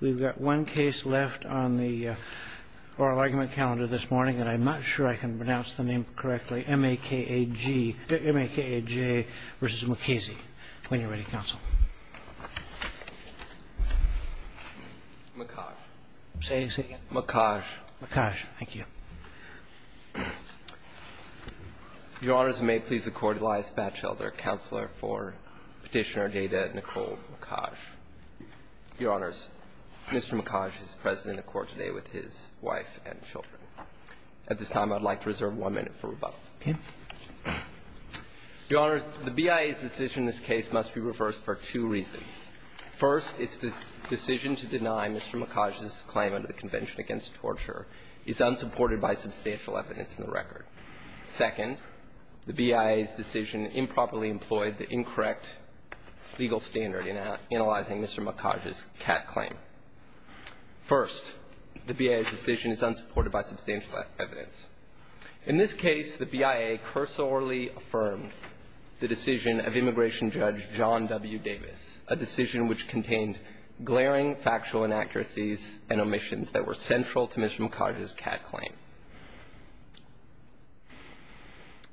We've got one case left on the oral argument calendar this morning, and I'm not sure I can pronounce the name correctly, M-A-K-A-G, M-A-K-A-J v. Mukasey. When you're ready, Counsel. Mukaj. Say it again. Mukaj. Mukaj, thank you. Your Honors, may it please the Court, Elias Batchelder, Counselor for Petitioner Data, Nicole Mukaj. Your Honors, Mr. Mukaj is present in the Court today with his wife and children. At this time, I'd like to reserve one minute for rebuttal. Okay. Your Honors, the BIA's decision in this case must be reversed for two reasons. First, its decision to deny Mr. Mukaj's claim under the Convention Against Torture is unsupported by substantial evidence in the record. Second, the BIA's decision improperly employed the incorrect legal standard in analyzing Mr. Mukaj's CAT claim. First, the BIA's decision is unsupported by substantial evidence. In this case, the BIA cursorily affirmed the decision of Immigration Judge John W. Davis, a decision which contained glaring factual inaccuracies and omissions that were central to Mr. Mukaj's CAT claim.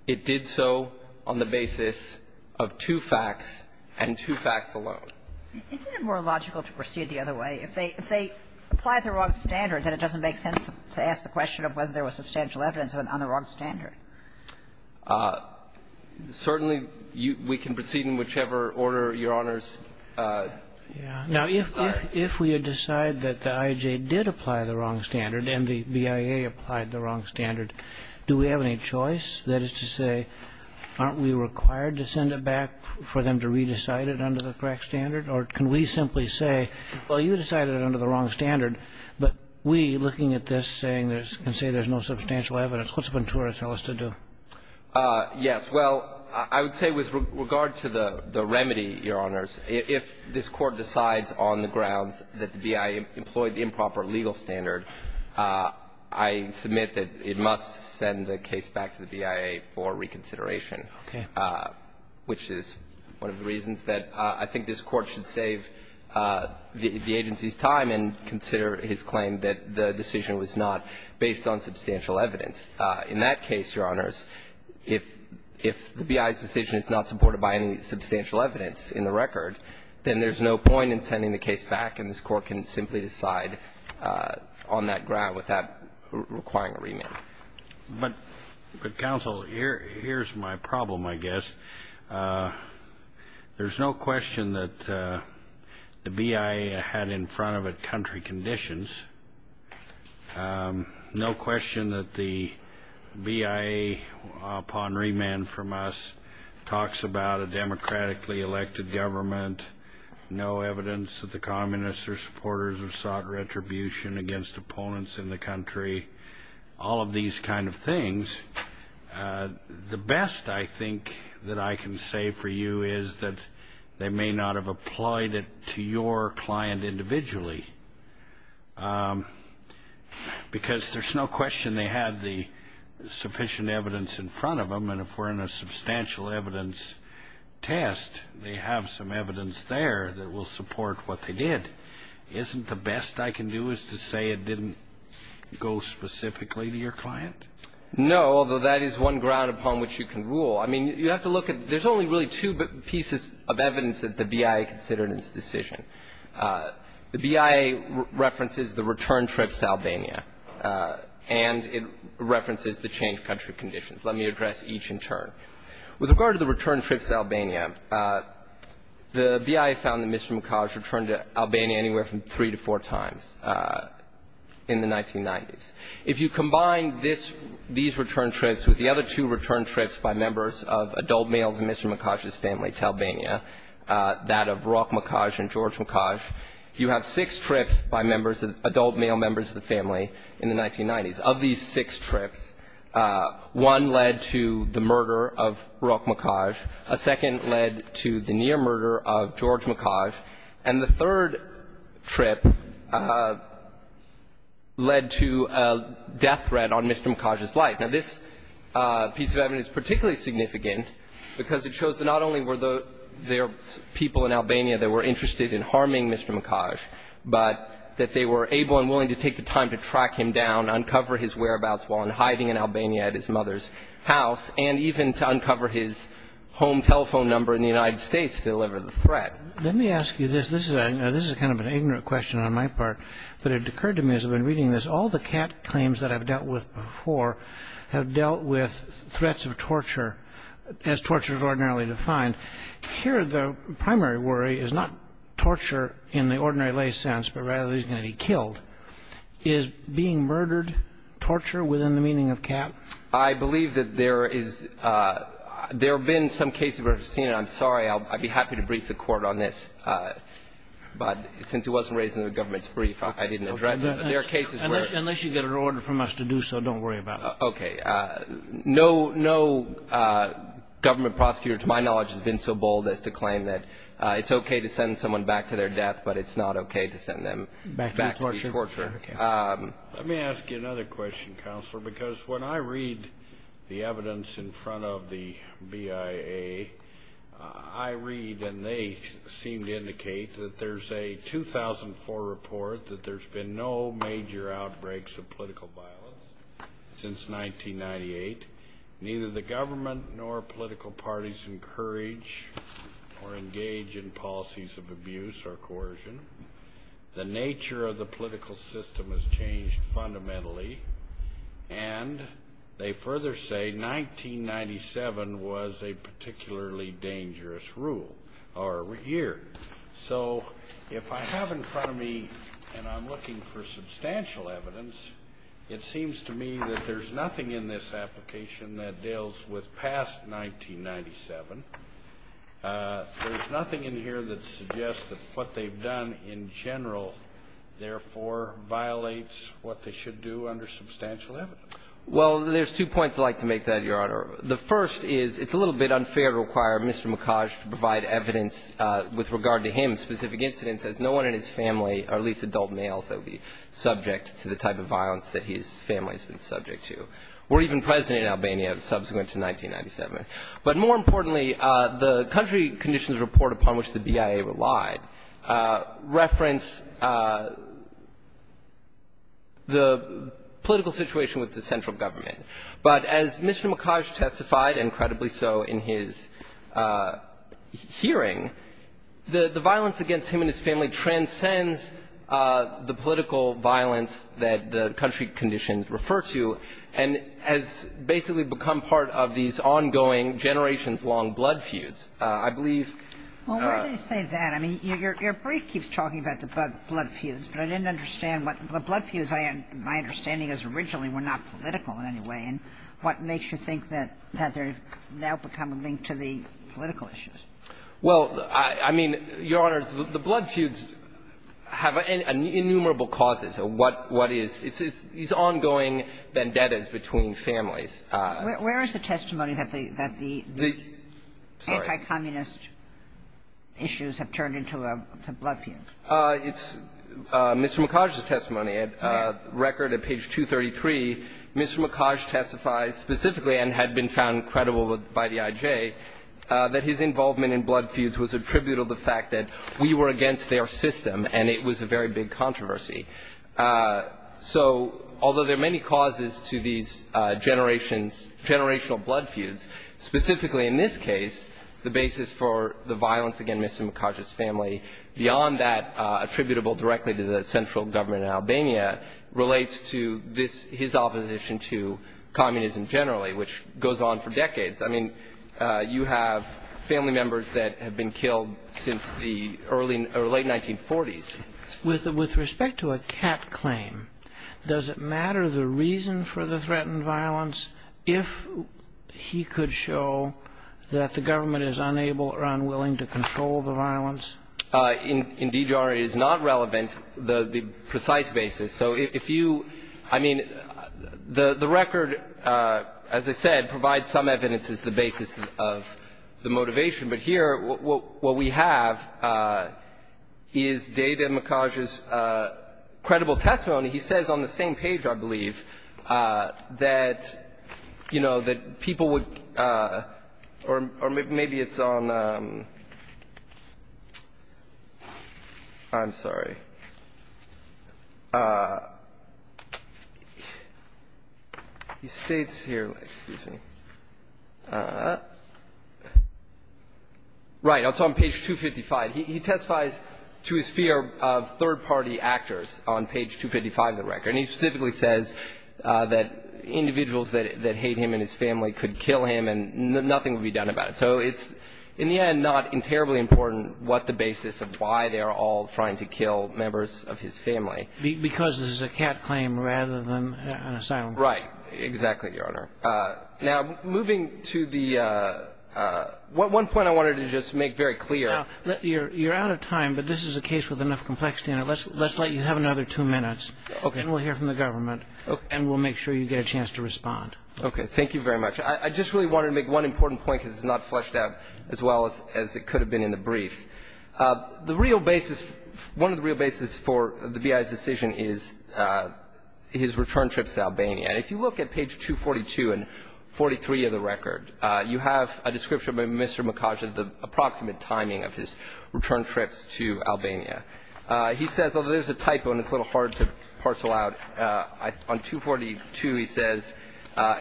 It did so on the basis of two facts and two facts alone. Isn't it more logical to proceed the other way? If they apply the wrong standard, then it doesn't make sense to ask the question of whether there was substantial evidence on the wrong standard. Certainly, we can proceed in whichever order, Your Honors. Now, if we decide that the IJ did apply the wrong standard and the BIA applied the wrong standard, do we have any choice? That is to say, aren't we required to send it back for them to re-decide it under the correct standard? Or can we simply say, well, you decided it under the wrong standard, but we, looking at this, can say there's no substantial evidence. What's Ventura tell us to do? Yes. Well, I would say with regard to the remedy, Your Honors, if this Court decides on the grounds that the BIA employed the improper legal standard, I submit that it must send the case back to the BIA for reconsideration. Okay. Which is one of the reasons that I think this Court should save the agency's time and consider his claim that the decision was not based on substantial evidence. In that case, Your Honors, if the BIA's decision is not supported by any substantial evidence in the record, then there's no point in sending the case back, and this Court can simply decide on that ground without requiring a remand. But, Counsel, here's my problem, I guess. There's no question that the BIA had in front of it country conditions. No question that the BIA, upon remand from us, talks about a democratically elected government, no evidence that the Communists or supporters have sought retribution against opponents in the country, all of these kind of things. The best, I think, that I can say for you is that they may not have applied it to your client individually, because there's no question they had the sufficient evidence in front of them, and if we're in a substantial evidence test, they have some evidence there that will support what they did. Isn't the best I can do is to say it didn't go specifically to your client? No, although that is one ground upon which you can rule. I mean, you have to look at there's only really two pieces of evidence that the BIA considered in its decision. The BIA references the return trips to Albania, and it references the changed country conditions. Let me address each in turn. With regard to the return trips to Albania, the BIA found that Mr. Mukaj returned to Albania anywhere from three to four times in the 1990s. If you combine this, these return trips with the other two return trips by members of adult males in Mr. Mukaj's family, Talbania, that of Rok Mukaj and George Mukaj, you have six trips by members of adult male members of the family in the 1990s. Of these six trips, one led to the murder of Rok Mukaj. A second led to the near murder of George Mukaj. And the third trip led to a death threat on Mr. Mukaj's life. Now, this piece of evidence is particularly significant because it shows that not only were there people in Albania that were interested in harming Mr. Mukaj, but that they were able and willing to take the time to track him down, uncover his whereabouts while in hiding in Albania at his mother's house, and even to uncover his home telephone number in the United States to deliver the threat. Let me ask you this. This is kind of an ignorant question on my part, but it occurred to me as I've been reading this, all the cat claims that I've dealt with before have dealt with threats of torture as torture is ordinarily defined. Here the primary worry is not torture in the ordinary lay sense, but rather he's going to be killed. Is being murdered torture within the meaning of cat? I believe that there is – there have been some cases where I've seen it. I'm sorry. I'd be happy to brief the court on this, but since it wasn't raised in the government's brief, I didn't address it. There are cases where – Unless you get an order from us to do so, don't worry about it. Okay. No government prosecutor to my knowledge has been so bold as to claim that it's okay to send someone back to their death, but it's not okay to send them back to be tortured. Let me ask you another question, Counselor, because when I read the evidence in front of the BIA, I read and they seem to indicate that there's a 2004 report that there's been no major outbreaks of political violence since 1998. Neither the government nor political parties encourage or engage in policies of abuse or coercion. The nature of the political system has changed fundamentally. And they further say 1997 was a particularly dangerous rule or year. So if I have in front of me and I'm looking for substantial evidence, it seems to me that there's nothing in this application that deals with past 1997. There's nothing in here that suggests that what they've done in general therefore violates what they should do under substantial evidence. Well, there's two points I'd like to make there, Your Honor. The first is it's a little bit unfair to require Mr. Mikhaj to provide evidence with regard to him, specific incidents, as no one in his family, or at least adult males, that would be subject to the type of violence that his family has been subject to, or even President of Albania subsequent to 1997. But more importantly, the country conditions report upon which the BIA relied reference the political situation with the central government. But as Mr. Mikhaj testified, and credibly so in his hearing, the violence against him and his family transcends the political violence that the country conditions refer to and has basically become part of these ongoing generations-long blood feuds. I believe the ---- But I didn't understand what the blood feuds, my understanding is originally were not political in any way. And what makes you think that they've now become linked to the political issues? Well, I mean, Your Honor, the blood feuds have innumerable causes of what is these ongoing vendettas between families. Where is the testimony that the anti-communist issues have turned into a blood feud? It's Mr. Mikhaj's testimony. At record at page 233, Mr. Mikhaj testifies specifically, and had been found credible by the IJ, that his involvement in blood feuds was a tribute of the fact that we were against their system, and it was a very big controversy. So although there are many causes to these generations, generational blood feuds, specifically in this case, the basis for the violence against Mr. Mikhaj's family beyond that attributable directly to the central government in Albania, relates to his opposition to communism generally, which goes on for decades. I mean, you have family members that have been killed since the late 1940s. With respect to a cat claim, does it matter the reason for the threatened violence if he could show that the government is unable or unwilling to control the violence? Indeed, Your Honor, it is not relevant the precise basis. So if you – I mean, the record, as I said, provides some evidence as the basis of the motivation. But here what we have is David Mikhaj's credible testimony. He says on the same page, I believe, that, you know, that people would – or maybe it's on – I'm sorry. He states here – excuse me. Right. It's on page 255. He testifies to his fear of third-party actors on page 255 of the record. And he specifically says that individuals that hate him and his family could kill him and nothing would be done about it. So it's, in the end, not terribly important what the basis of why they are all trying to kill members of his family. Because this is a cat claim rather than an asylum claim. Right. Exactly, Your Honor. Now, moving to the – one point I wanted to just make very clear. Now, you're out of time, but this is a case with enough complexity in it. Let's let you have another two minutes. Okay. And we'll hear from the government. Okay. And we'll make sure you get a chance to respond. Okay. Thank you very much. I just really wanted to make one important point because it's not fleshed out as well as it could have been in the briefs. The real basis – one of the real basis for the B.I.'s decision is his return trips to Albania. And if you look at page 242 and 43 of the record, you have a description by Mr. Mikhaj of the approximate timing of his return trips to Albania. He says, although there's a typo and it's a little hard to parcel out, on 242 he says,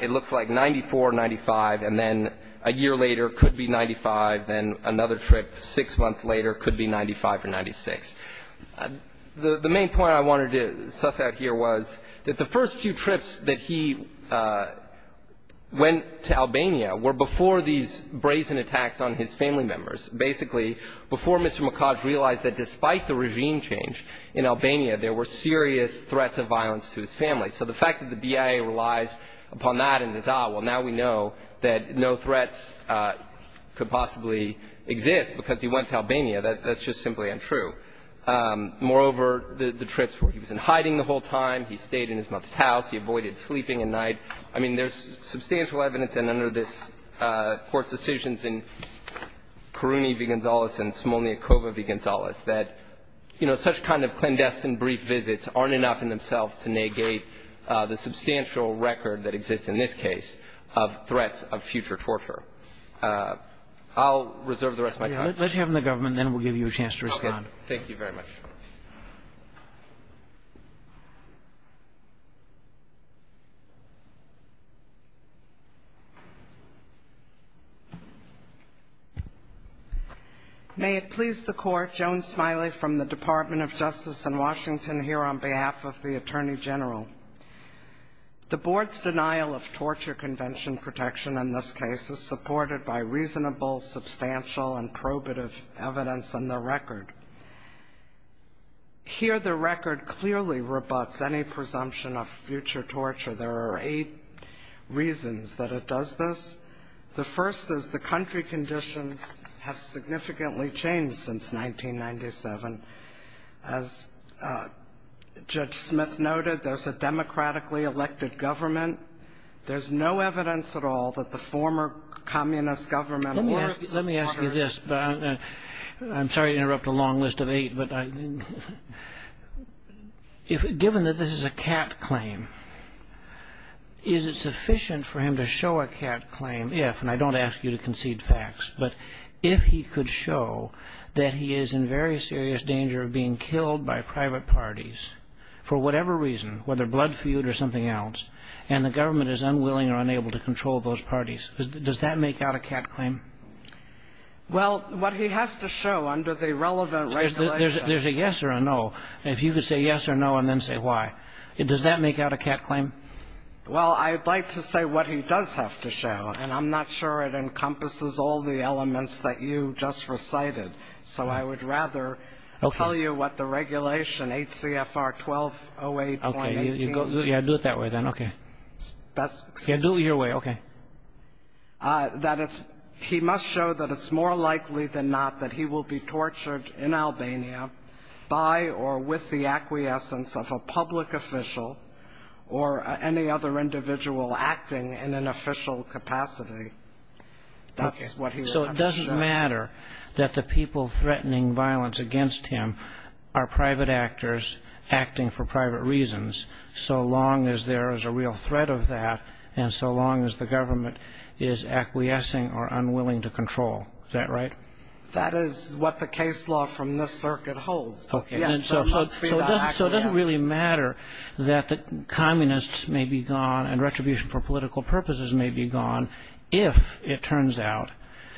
it looks like 94, 95, and then a year later it could be 95, then another trip six months later it could be 95 or 96. The main point I wanted to suss out here was that the first few trips that he went to Albania were before these brazen attacks on his family members, basically before Mr. Mikhaj realized that despite the regime change in Albania there were serious threats of violence to his family. So the fact that the B.I.A. relies upon that and says, ah, well, now we know that no threats could possibly exist because he went to Albania, that's just simply untrue. Moreover, the trips where he was in hiding the whole time, he stayed in his mother's house, he avoided sleeping at night. I mean, there's substantial evidence, and under this Court's decisions in Caruni v. Gonzales and Smolniakova v. Gonzales, that, you know, such kind of clandestine brief visits aren't enough in themselves to negate the substantial record that exists in this case of threats of future torture. I'll reserve the rest of my time. Let's hear from the government, then we'll give you a chance to respond. Thank you very much. May it please the Court, Joan Smiley from the Department of Justice in Washington here on behalf of the Attorney General. The Board's denial of torture convention protection in this case is supported by reasonable, substantial, and probative evidence in the record. Here the record clearly rebuts any presumption of future torture. There are eight reasons that it does this. The first is the country conditions have significantly changed since 1997. As Judge Smith noted, there's a democratically elected government. There's no evidence at all that the former communist government or its supporters Let me ask you this. I'm sorry to interrupt a long list of eight, but given that this is a cat claim, is it sufficient for him to show a cat claim if, and I don't ask you to concede facts, but if he could show that he is in very serious danger of being killed by private parties for whatever reason, whether blood feud or something else, and the government is unwilling or unable to control those parties, does that make out a cat claim? Well, what he has to show under the relevant regulation There's a yes or a no. If you could say yes or no and then say why, does that make out a cat claim? Well, I'd like to say what he does have to show, and I'm not sure it encompasses all the elements that you just recited. So I would rather tell you what the regulation, 8 CFR 1208.18 Okay. Yeah, do it that way then. Okay. Best Yeah, do it your way. Okay. That it's, he must show that it's more likely than not that he will be tortured in Albania by or with the acquiescence of a public official or any other individual acting in an official capacity. That's what he would have to show. Does it matter that the people threatening violence against him are private actors acting for private reasons so long as there is a real threat of that and so long as the government is acquiescing or unwilling to control? Is that right? That is what the case law from this circuit holds. Okay. So it doesn't really matter that the communists may be gone and retribution for political purposes may be gone if it turns out,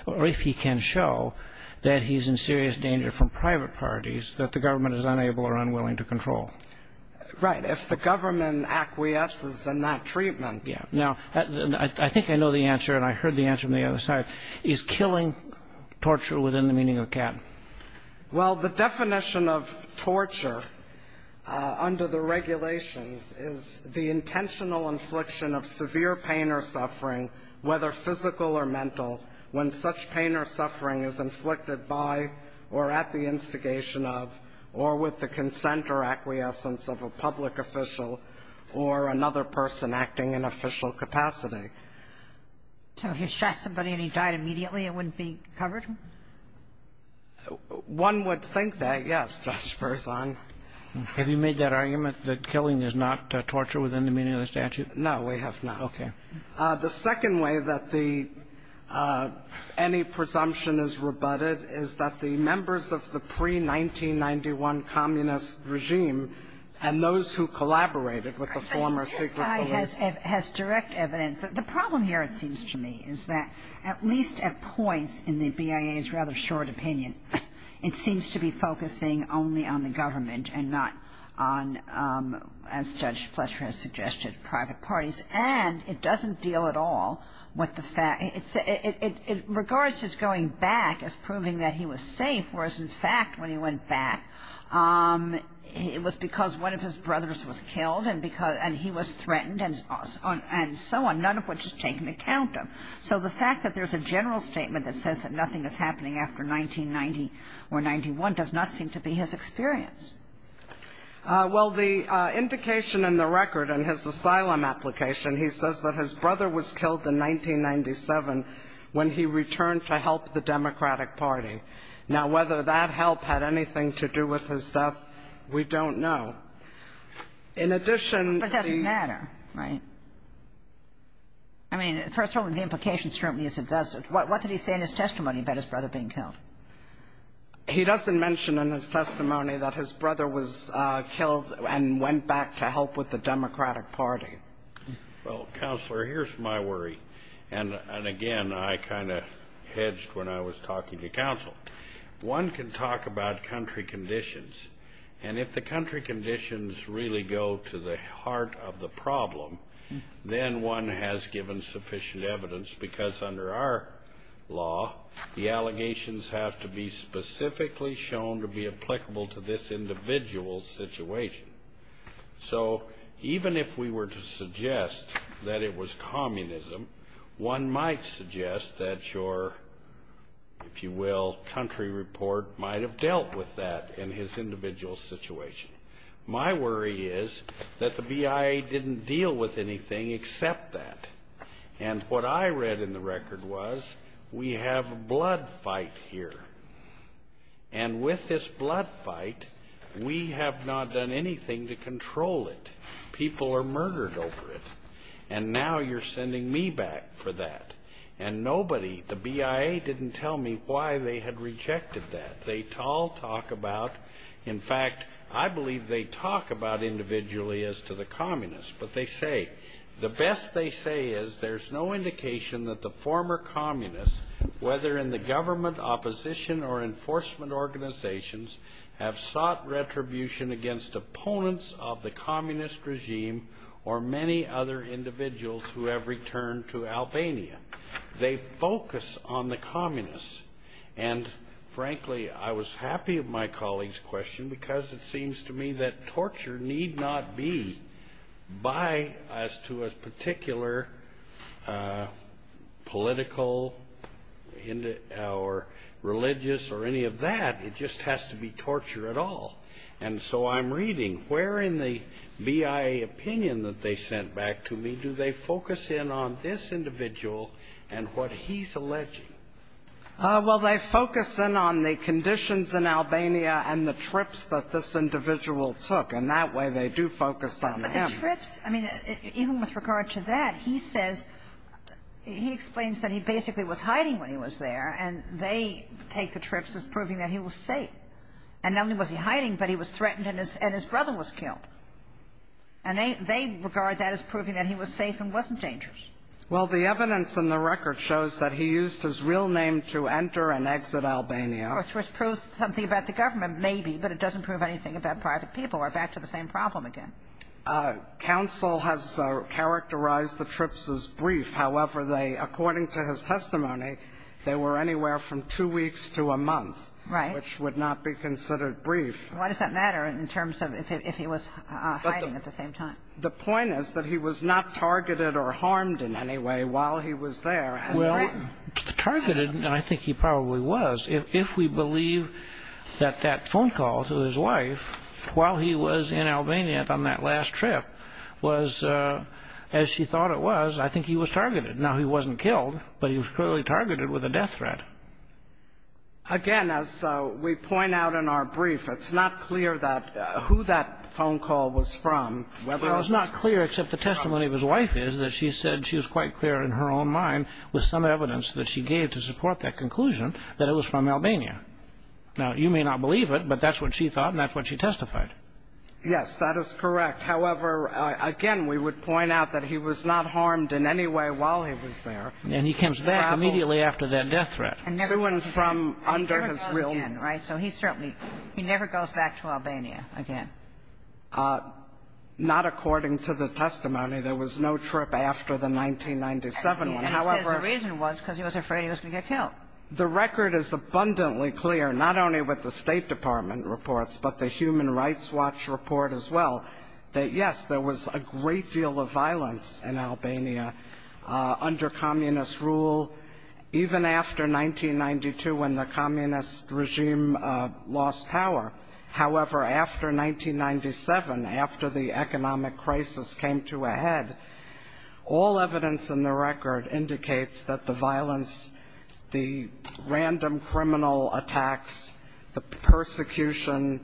or if he can show that he's in serious danger from private parties that the government is unable or unwilling to control. Right. If the government acquiesces in that treatment. Yeah. Now, I think I know the answer and I heard the answer on the other side. Is killing torture within the meaning of CAT? Well, the definition of torture under the regulations is the intentional infliction of severe pain or suffering, whether physical or mental, when such pain or suffering is inflicted by or at the instigation of or with the consent or acquiescence of a public official or another person acting in official capacity. So if you shot somebody and he died immediately, it wouldn't be covered? One would think that, yes, Judge Berzon. Have you made that argument that killing is not torture within the meaning of the statute? No, we have not. Okay. The second way that the any presumption is rebutted is that the members of the pre-1991 communist regime and those who collaborated with the former secret police. It has direct evidence. The problem here, it seems to me, is that at least at points in the BIA's rather short opinion, it seems to be focusing only on the government and not on, as Judge Fletcher has suggested, private parties. And it doesn't deal at all with the fact it regards his going back as proving that he was safe, whereas, in fact, when he went back, it was because one of his brothers was killed and he was threatened and so on, none of which is taken account of. So the fact that there's a general statement that says that nothing is happening after 1990 or 91 does not seem to be his experience. Well, the indication in the record in his asylum application, he says that his brother was killed in 1997 when he returned to help the Democratic Party. Now, whether that help had anything to do with his death, we don't know. In addition, the ---- But it doesn't matter, right? I mean, first of all, the implication certainly is it doesn't. What did he say in his testimony about his brother being killed? He doesn't mention in his testimony that his brother was killed and went back to help with the Democratic Party. Well, Counselor, here's my worry. And again, I kind of hedged when I was talking to counsel. One can talk about country conditions, and if the country conditions really go to the heart of the problem, then one has given sufficient evidence because under our law, the allegations have to be specifically shown to be applicable to this individual's situation. So even if we were to suggest that it was communism, one might suggest that your, if you will, country report might have dealt with that in his individual situation. My worry is that the BIA didn't deal with anything except that. And what I read in the record was we have a blood fight here. And with this blood fight, we have not done anything to control it. People are murdered over it. And now you're sending me back for that. And nobody, the BIA didn't tell me why they had rejected that. They all talk about, in fact, I believe they talk about individually as to the communists. But they say, the best they say is there's no indication that the former communists, whether in the government, opposition, or enforcement organizations, have sought retribution against opponents of the communist regime or many other individuals who have returned to Albania. They focus on the communists. And, frankly, I was happy of my colleague's question because it seems to me that torture need not be by as to a particular political or religious or any of that. It just has to be torture at all. And so I'm reading, where in the BIA opinion that they sent back to me, do they focus in on this individual and what he's alleging? Well, they focus in on the conditions in Albania and the trips that this individual took. And that way they do focus on them. But the trips, I mean, even with regard to that, he says, he explains that he basically was hiding when he was there. And they take the trips as proving that he was safe. And not only was he hiding, but he was threatened and his brother was killed. And they regard that as proving that he was safe and wasn't dangerous. Well, the evidence in the record shows that he used his real name to enter and exit Albania. Which proves something about the government, maybe, but it doesn't prove anything about private people. We're back to the same problem again. Counsel has characterized the trips as brief. However, according to his testimony, they were anywhere from two weeks to a month. Right. Which would not be considered brief. Why does that matter in terms of if he was hiding at the same time? The point is that he was not targeted or harmed in any way while he was there. Well, targeted, and I think he probably was, if we believe that that phone call to his wife while he was in Albania on that last trip was as she thought it was, I think he was targeted. Now, he wasn't killed, but he was clearly targeted with a death threat. Again, as we point out in our brief, it's not clear who that phone call was from. Well, it's not clear except the testimony of his wife is that she said she was quite clear in her own mind with some evidence that she gave to support that conclusion that it was from Albania. Now, you may not believe it, but that's what she thought and that's what she testified. Yes, that is correct. However, again, we would point out that he was not harmed in any way while he was there. And he comes back immediately after that death threat. And never goes back. Soon from under his real name. He never goes back to Albania again. Not according to the testimony. There was no trip after the 1997 one. He says the reason was because he was afraid he was going to get killed. The record is abundantly clear, not only with the State Department reports, but the Human Rights Watch report as well, that, yes, there was a great deal of violence in Albania under communist rule, even after 1992 when the communist regime lost power. However, after 1997, after the economic crisis came to a head, all evidence in the record indicates that the violence, the random criminal attacks, the persecution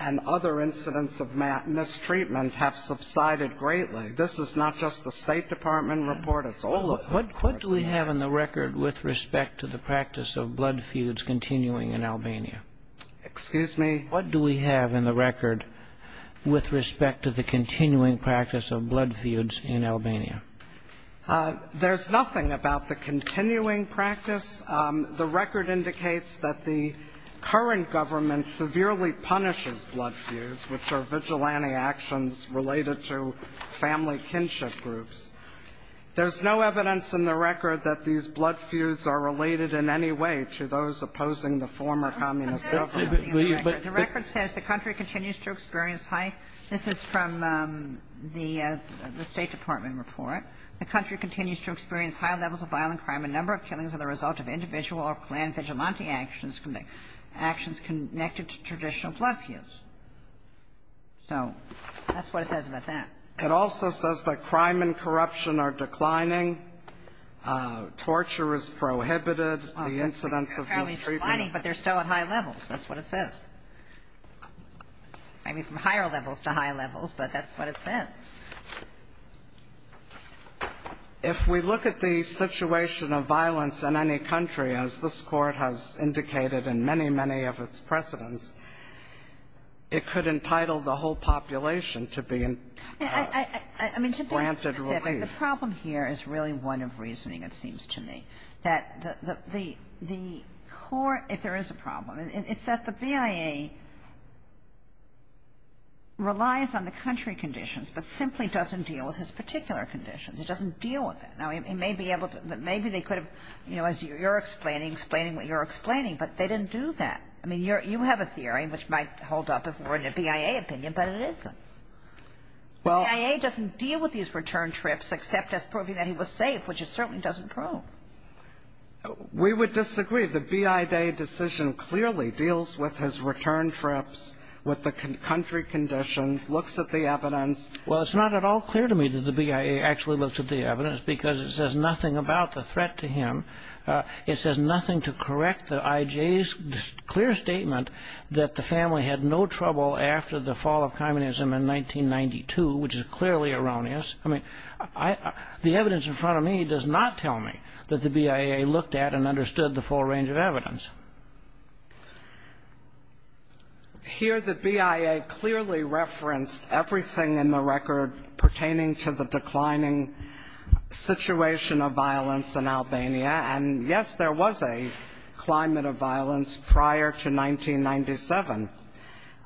and other incidents of mistreatment have subsided greatly. This is not just the State Department report. It's all of them. What do we have in the record with respect to the practice of blood feuds continuing in Albania? Excuse me? What do we have in the record with respect to the continuing practice of blood feuds in Albania? There's nothing about the continuing practice. The record indicates that the current government severely punishes blood feuds, which are vigilante actions related to family kinship groups. There's no evidence in the record that these blood feuds are related in any way to those opposing the former communist government. The record says the country continues to experience high – this is from the State Department report – the country continues to experience high levels of violent crime, a number of killings as a result of individual or clan vigilante actions connected to traditional blood feuds. So that's what it says about that. It also says that crime and corruption are declining. Torture is prohibited. The incidents of mistreatment are declining, but they're still at high levels. That's what it says. I mean, from higher levels to high levels, but that's what it says. If we look at the situation of violence in any country, as this Court has indicated in many, many of its precedents, it could entitle the whole population to be granted relief. I mean, to be specific, the problem here is really one of reasoning, it seems to me, that the court, if there is a problem, it's that the BIA relies on the country conditions, but simply doesn't deal with his particular conditions. It doesn't deal with that. Now, it may be able to – maybe they could have, you know, as you're explaining, explaining what you're explaining, but they didn't do that. I mean, you have a theory, which might hold up if we're in a BIA opinion, but it isn't. Well – BIA doesn't deal with these return trips except as proving that he was safe, which it certainly doesn't prove. We would disagree. The BIA decision clearly deals with his return trips, with the country conditions, looks at the evidence. Well, it's not at all clear to me that the BIA actually looks at the evidence, because it says nothing about the threat to him. It says nothing to correct the IJ's clear statement that the family had no trouble after the fall of communism in 1992, which is clearly erroneous. I mean, the evidence in front of me does not tell me that the BIA looked at and understood the full range of evidence. Here, the BIA clearly referenced everything in the record pertaining to the declining situation of violence in Albania. And, yes, there was a climate of violence prior to 1997.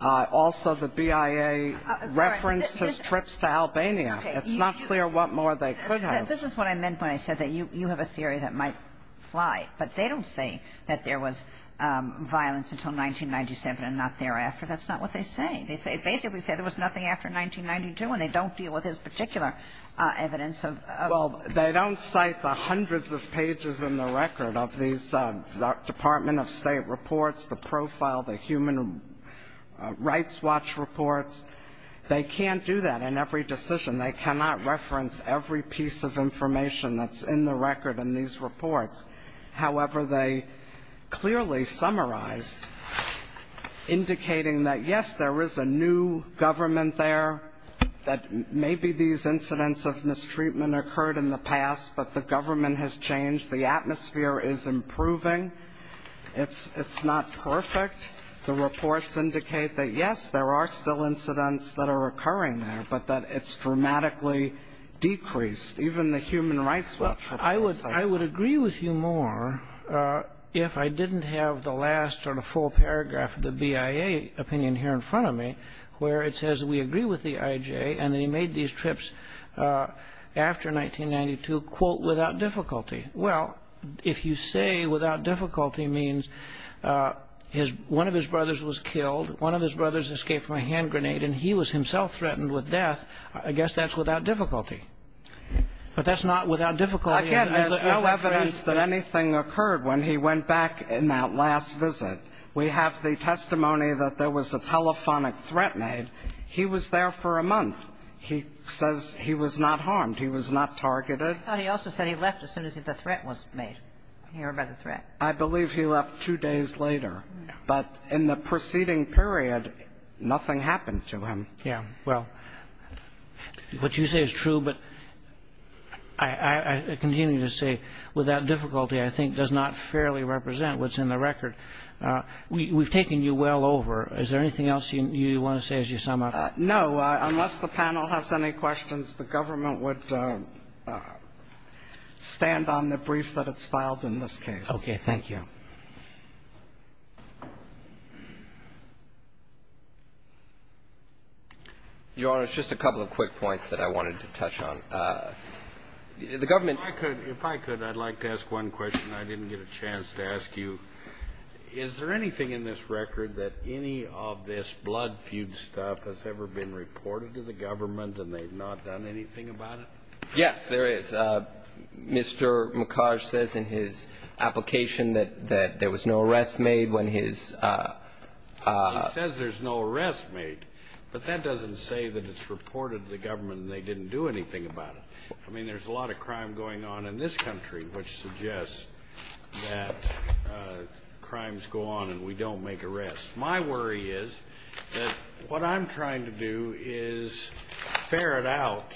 Also, the BIA referenced his trips to Albania. It's not clear what more they could have. This is what I meant when I said that you have a theory that might fly. But they don't say that there was violence until 1997 and not thereafter. That's not what they say. They basically say there was nothing after 1992, and they don't deal with his particular evidence of ---- Well, they don't cite the hundreds of pages in the record of these Department of State reports, the profile, the Human Rights Watch reports. They can't do that in every decision. They cannot reference every piece of information that's in the record in these reports. However, they clearly summarized, indicating that, yes, there is a new government there, that maybe these incidents of mistreatment occurred in the past, but the government has changed. The atmosphere is improving. It's not perfect. The reports indicate that, yes, there are still incidents that are occurring there, but that it's dramatically decreased. Even the Human Rights Watch report says so. I would agree with you more if I didn't have the last sort of full paragraph of the BIA opinion here in front of me, where it says we agree with the IJ and that he made these trips after 1992, quote, without difficulty. Well, if you say without difficulty means one of his brothers was killed, one of his brothers escaped from a hand grenade, and he was himself threatened with death, I guess that's without difficulty. But that's not without difficulty. Again, there's no evidence that anything occurred when he went back in that last visit. We have the testimony that there was a telephonic threat made. He was there for a month. He says he was not harmed. He was not targeted. I thought he also said he left as soon as the threat was made. He heard about the threat. I believe he left two days later. But in the preceding period, nothing happened to him. Yeah, well, what you say is true, but I continue to say without difficulty I think does not fairly represent what's in the record. We've taken you well over. Is there anything else you want to say as you sum up? No. Unless the panel has any questions, the government would stand on the brief that it's filed in this case. Thank you. Your Honor, it's just a couple of quick points that I wanted to touch on. The government ---- If I could, I'd like to ask one question. I didn't get a chance to ask you. Is there anything in this record that any of this blood feud stuff has ever been reported to the government and they've not done anything about it? Yes, there is. Mr. McCarty says in his application that there was no arrest made when his ---- He says there's no arrest made, but that doesn't say that it's reported to the government and they didn't do anything about it. I mean, there's a lot of crime going on in this country which suggests that crimes go on and we don't make arrests. My worry is that what I'm trying to do is ferret out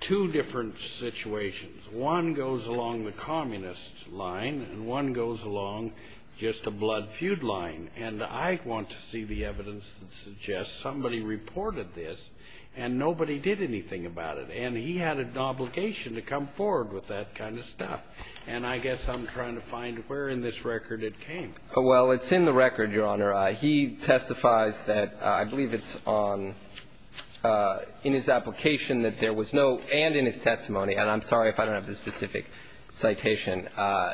two different situations. One goes along the communist line and one goes along just a blood feud line. And I want to see the evidence that suggests somebody reported this and nobody did anything about it. And he had an obligation to come forward with that kind of stuff. And I guess I'm trying to find where in this record it came. Well, it's in the record, Your Honor. He testifies that I believe it's on in his application that there was no, and in his testimony, and I'm sorry if I don't have the specific citation,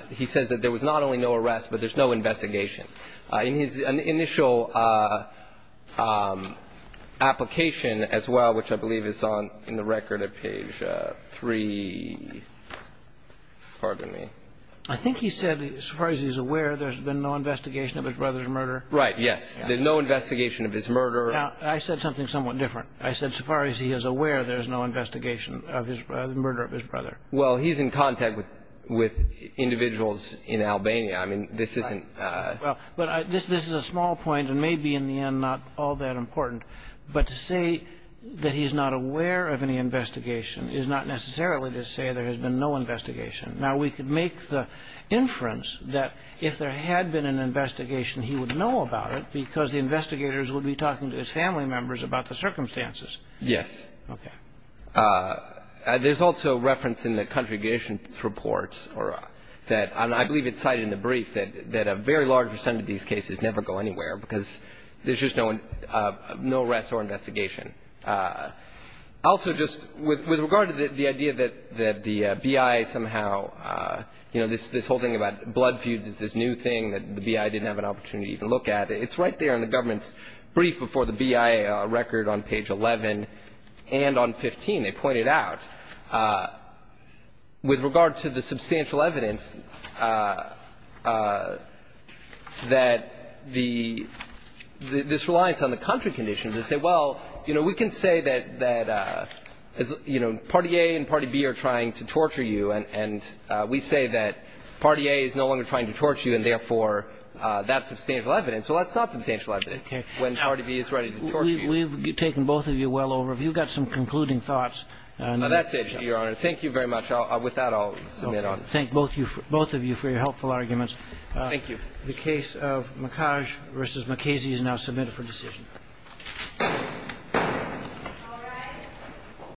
he says that there was not only no arrest, but there's no investigation. In his initial application as well, which I believe is on in the record at page three, pardon me. I think he said as far as he's aware there's been no investigation of his brother's murder. Right, yes. There's no investigation of his murder. Now, I said something somewhat different. I said as far as he is aware there's no investigation of the murder of his brother. Well, he's in contact with individuals in Albania. I mean, this isn't. Well, this is a small point and may be in the end not all that important. But to say that he's not aware of any investigation is not necessarily to say there has been no investigation. Now, we could make the inference that if there had been an investigation, he would know about it because the investigators would be talking to his family members about the circumstances. Yes. Okay. There's also reference in the contribution reports that I believe it's cited in the brief that a very large percent of these cases never go anywhere because there's just no arrest or investigation. Also, just with regard to the idea that the BIA somehow, you know, this whole thing about blood feuds is this new thing that the BIA didn't have an opportunity to look at, it's right there in the government's brief before the BIA record on page 11 and on 15. They point it out. With regard to the substantial evidence that the – this reliance on the contrary condition, they say, well, you know, we can say that, you know, Party A and Party B are trying to torture you, and we say that Party A is no longer trying to torture you, and therefore, that's substantial evidence. Well, that's not substantial evidence when Party B is ready to torture you. We've taken both of you well over. Have you got some concluding thoughts on this issue? No, that's it, Your Honor. Thank you very much. With that, I'll submit on it. Okay. Thank both of you for your helpful arguments. Thank you. The case of McCage v. McKazy is now submitted for decision. All rise.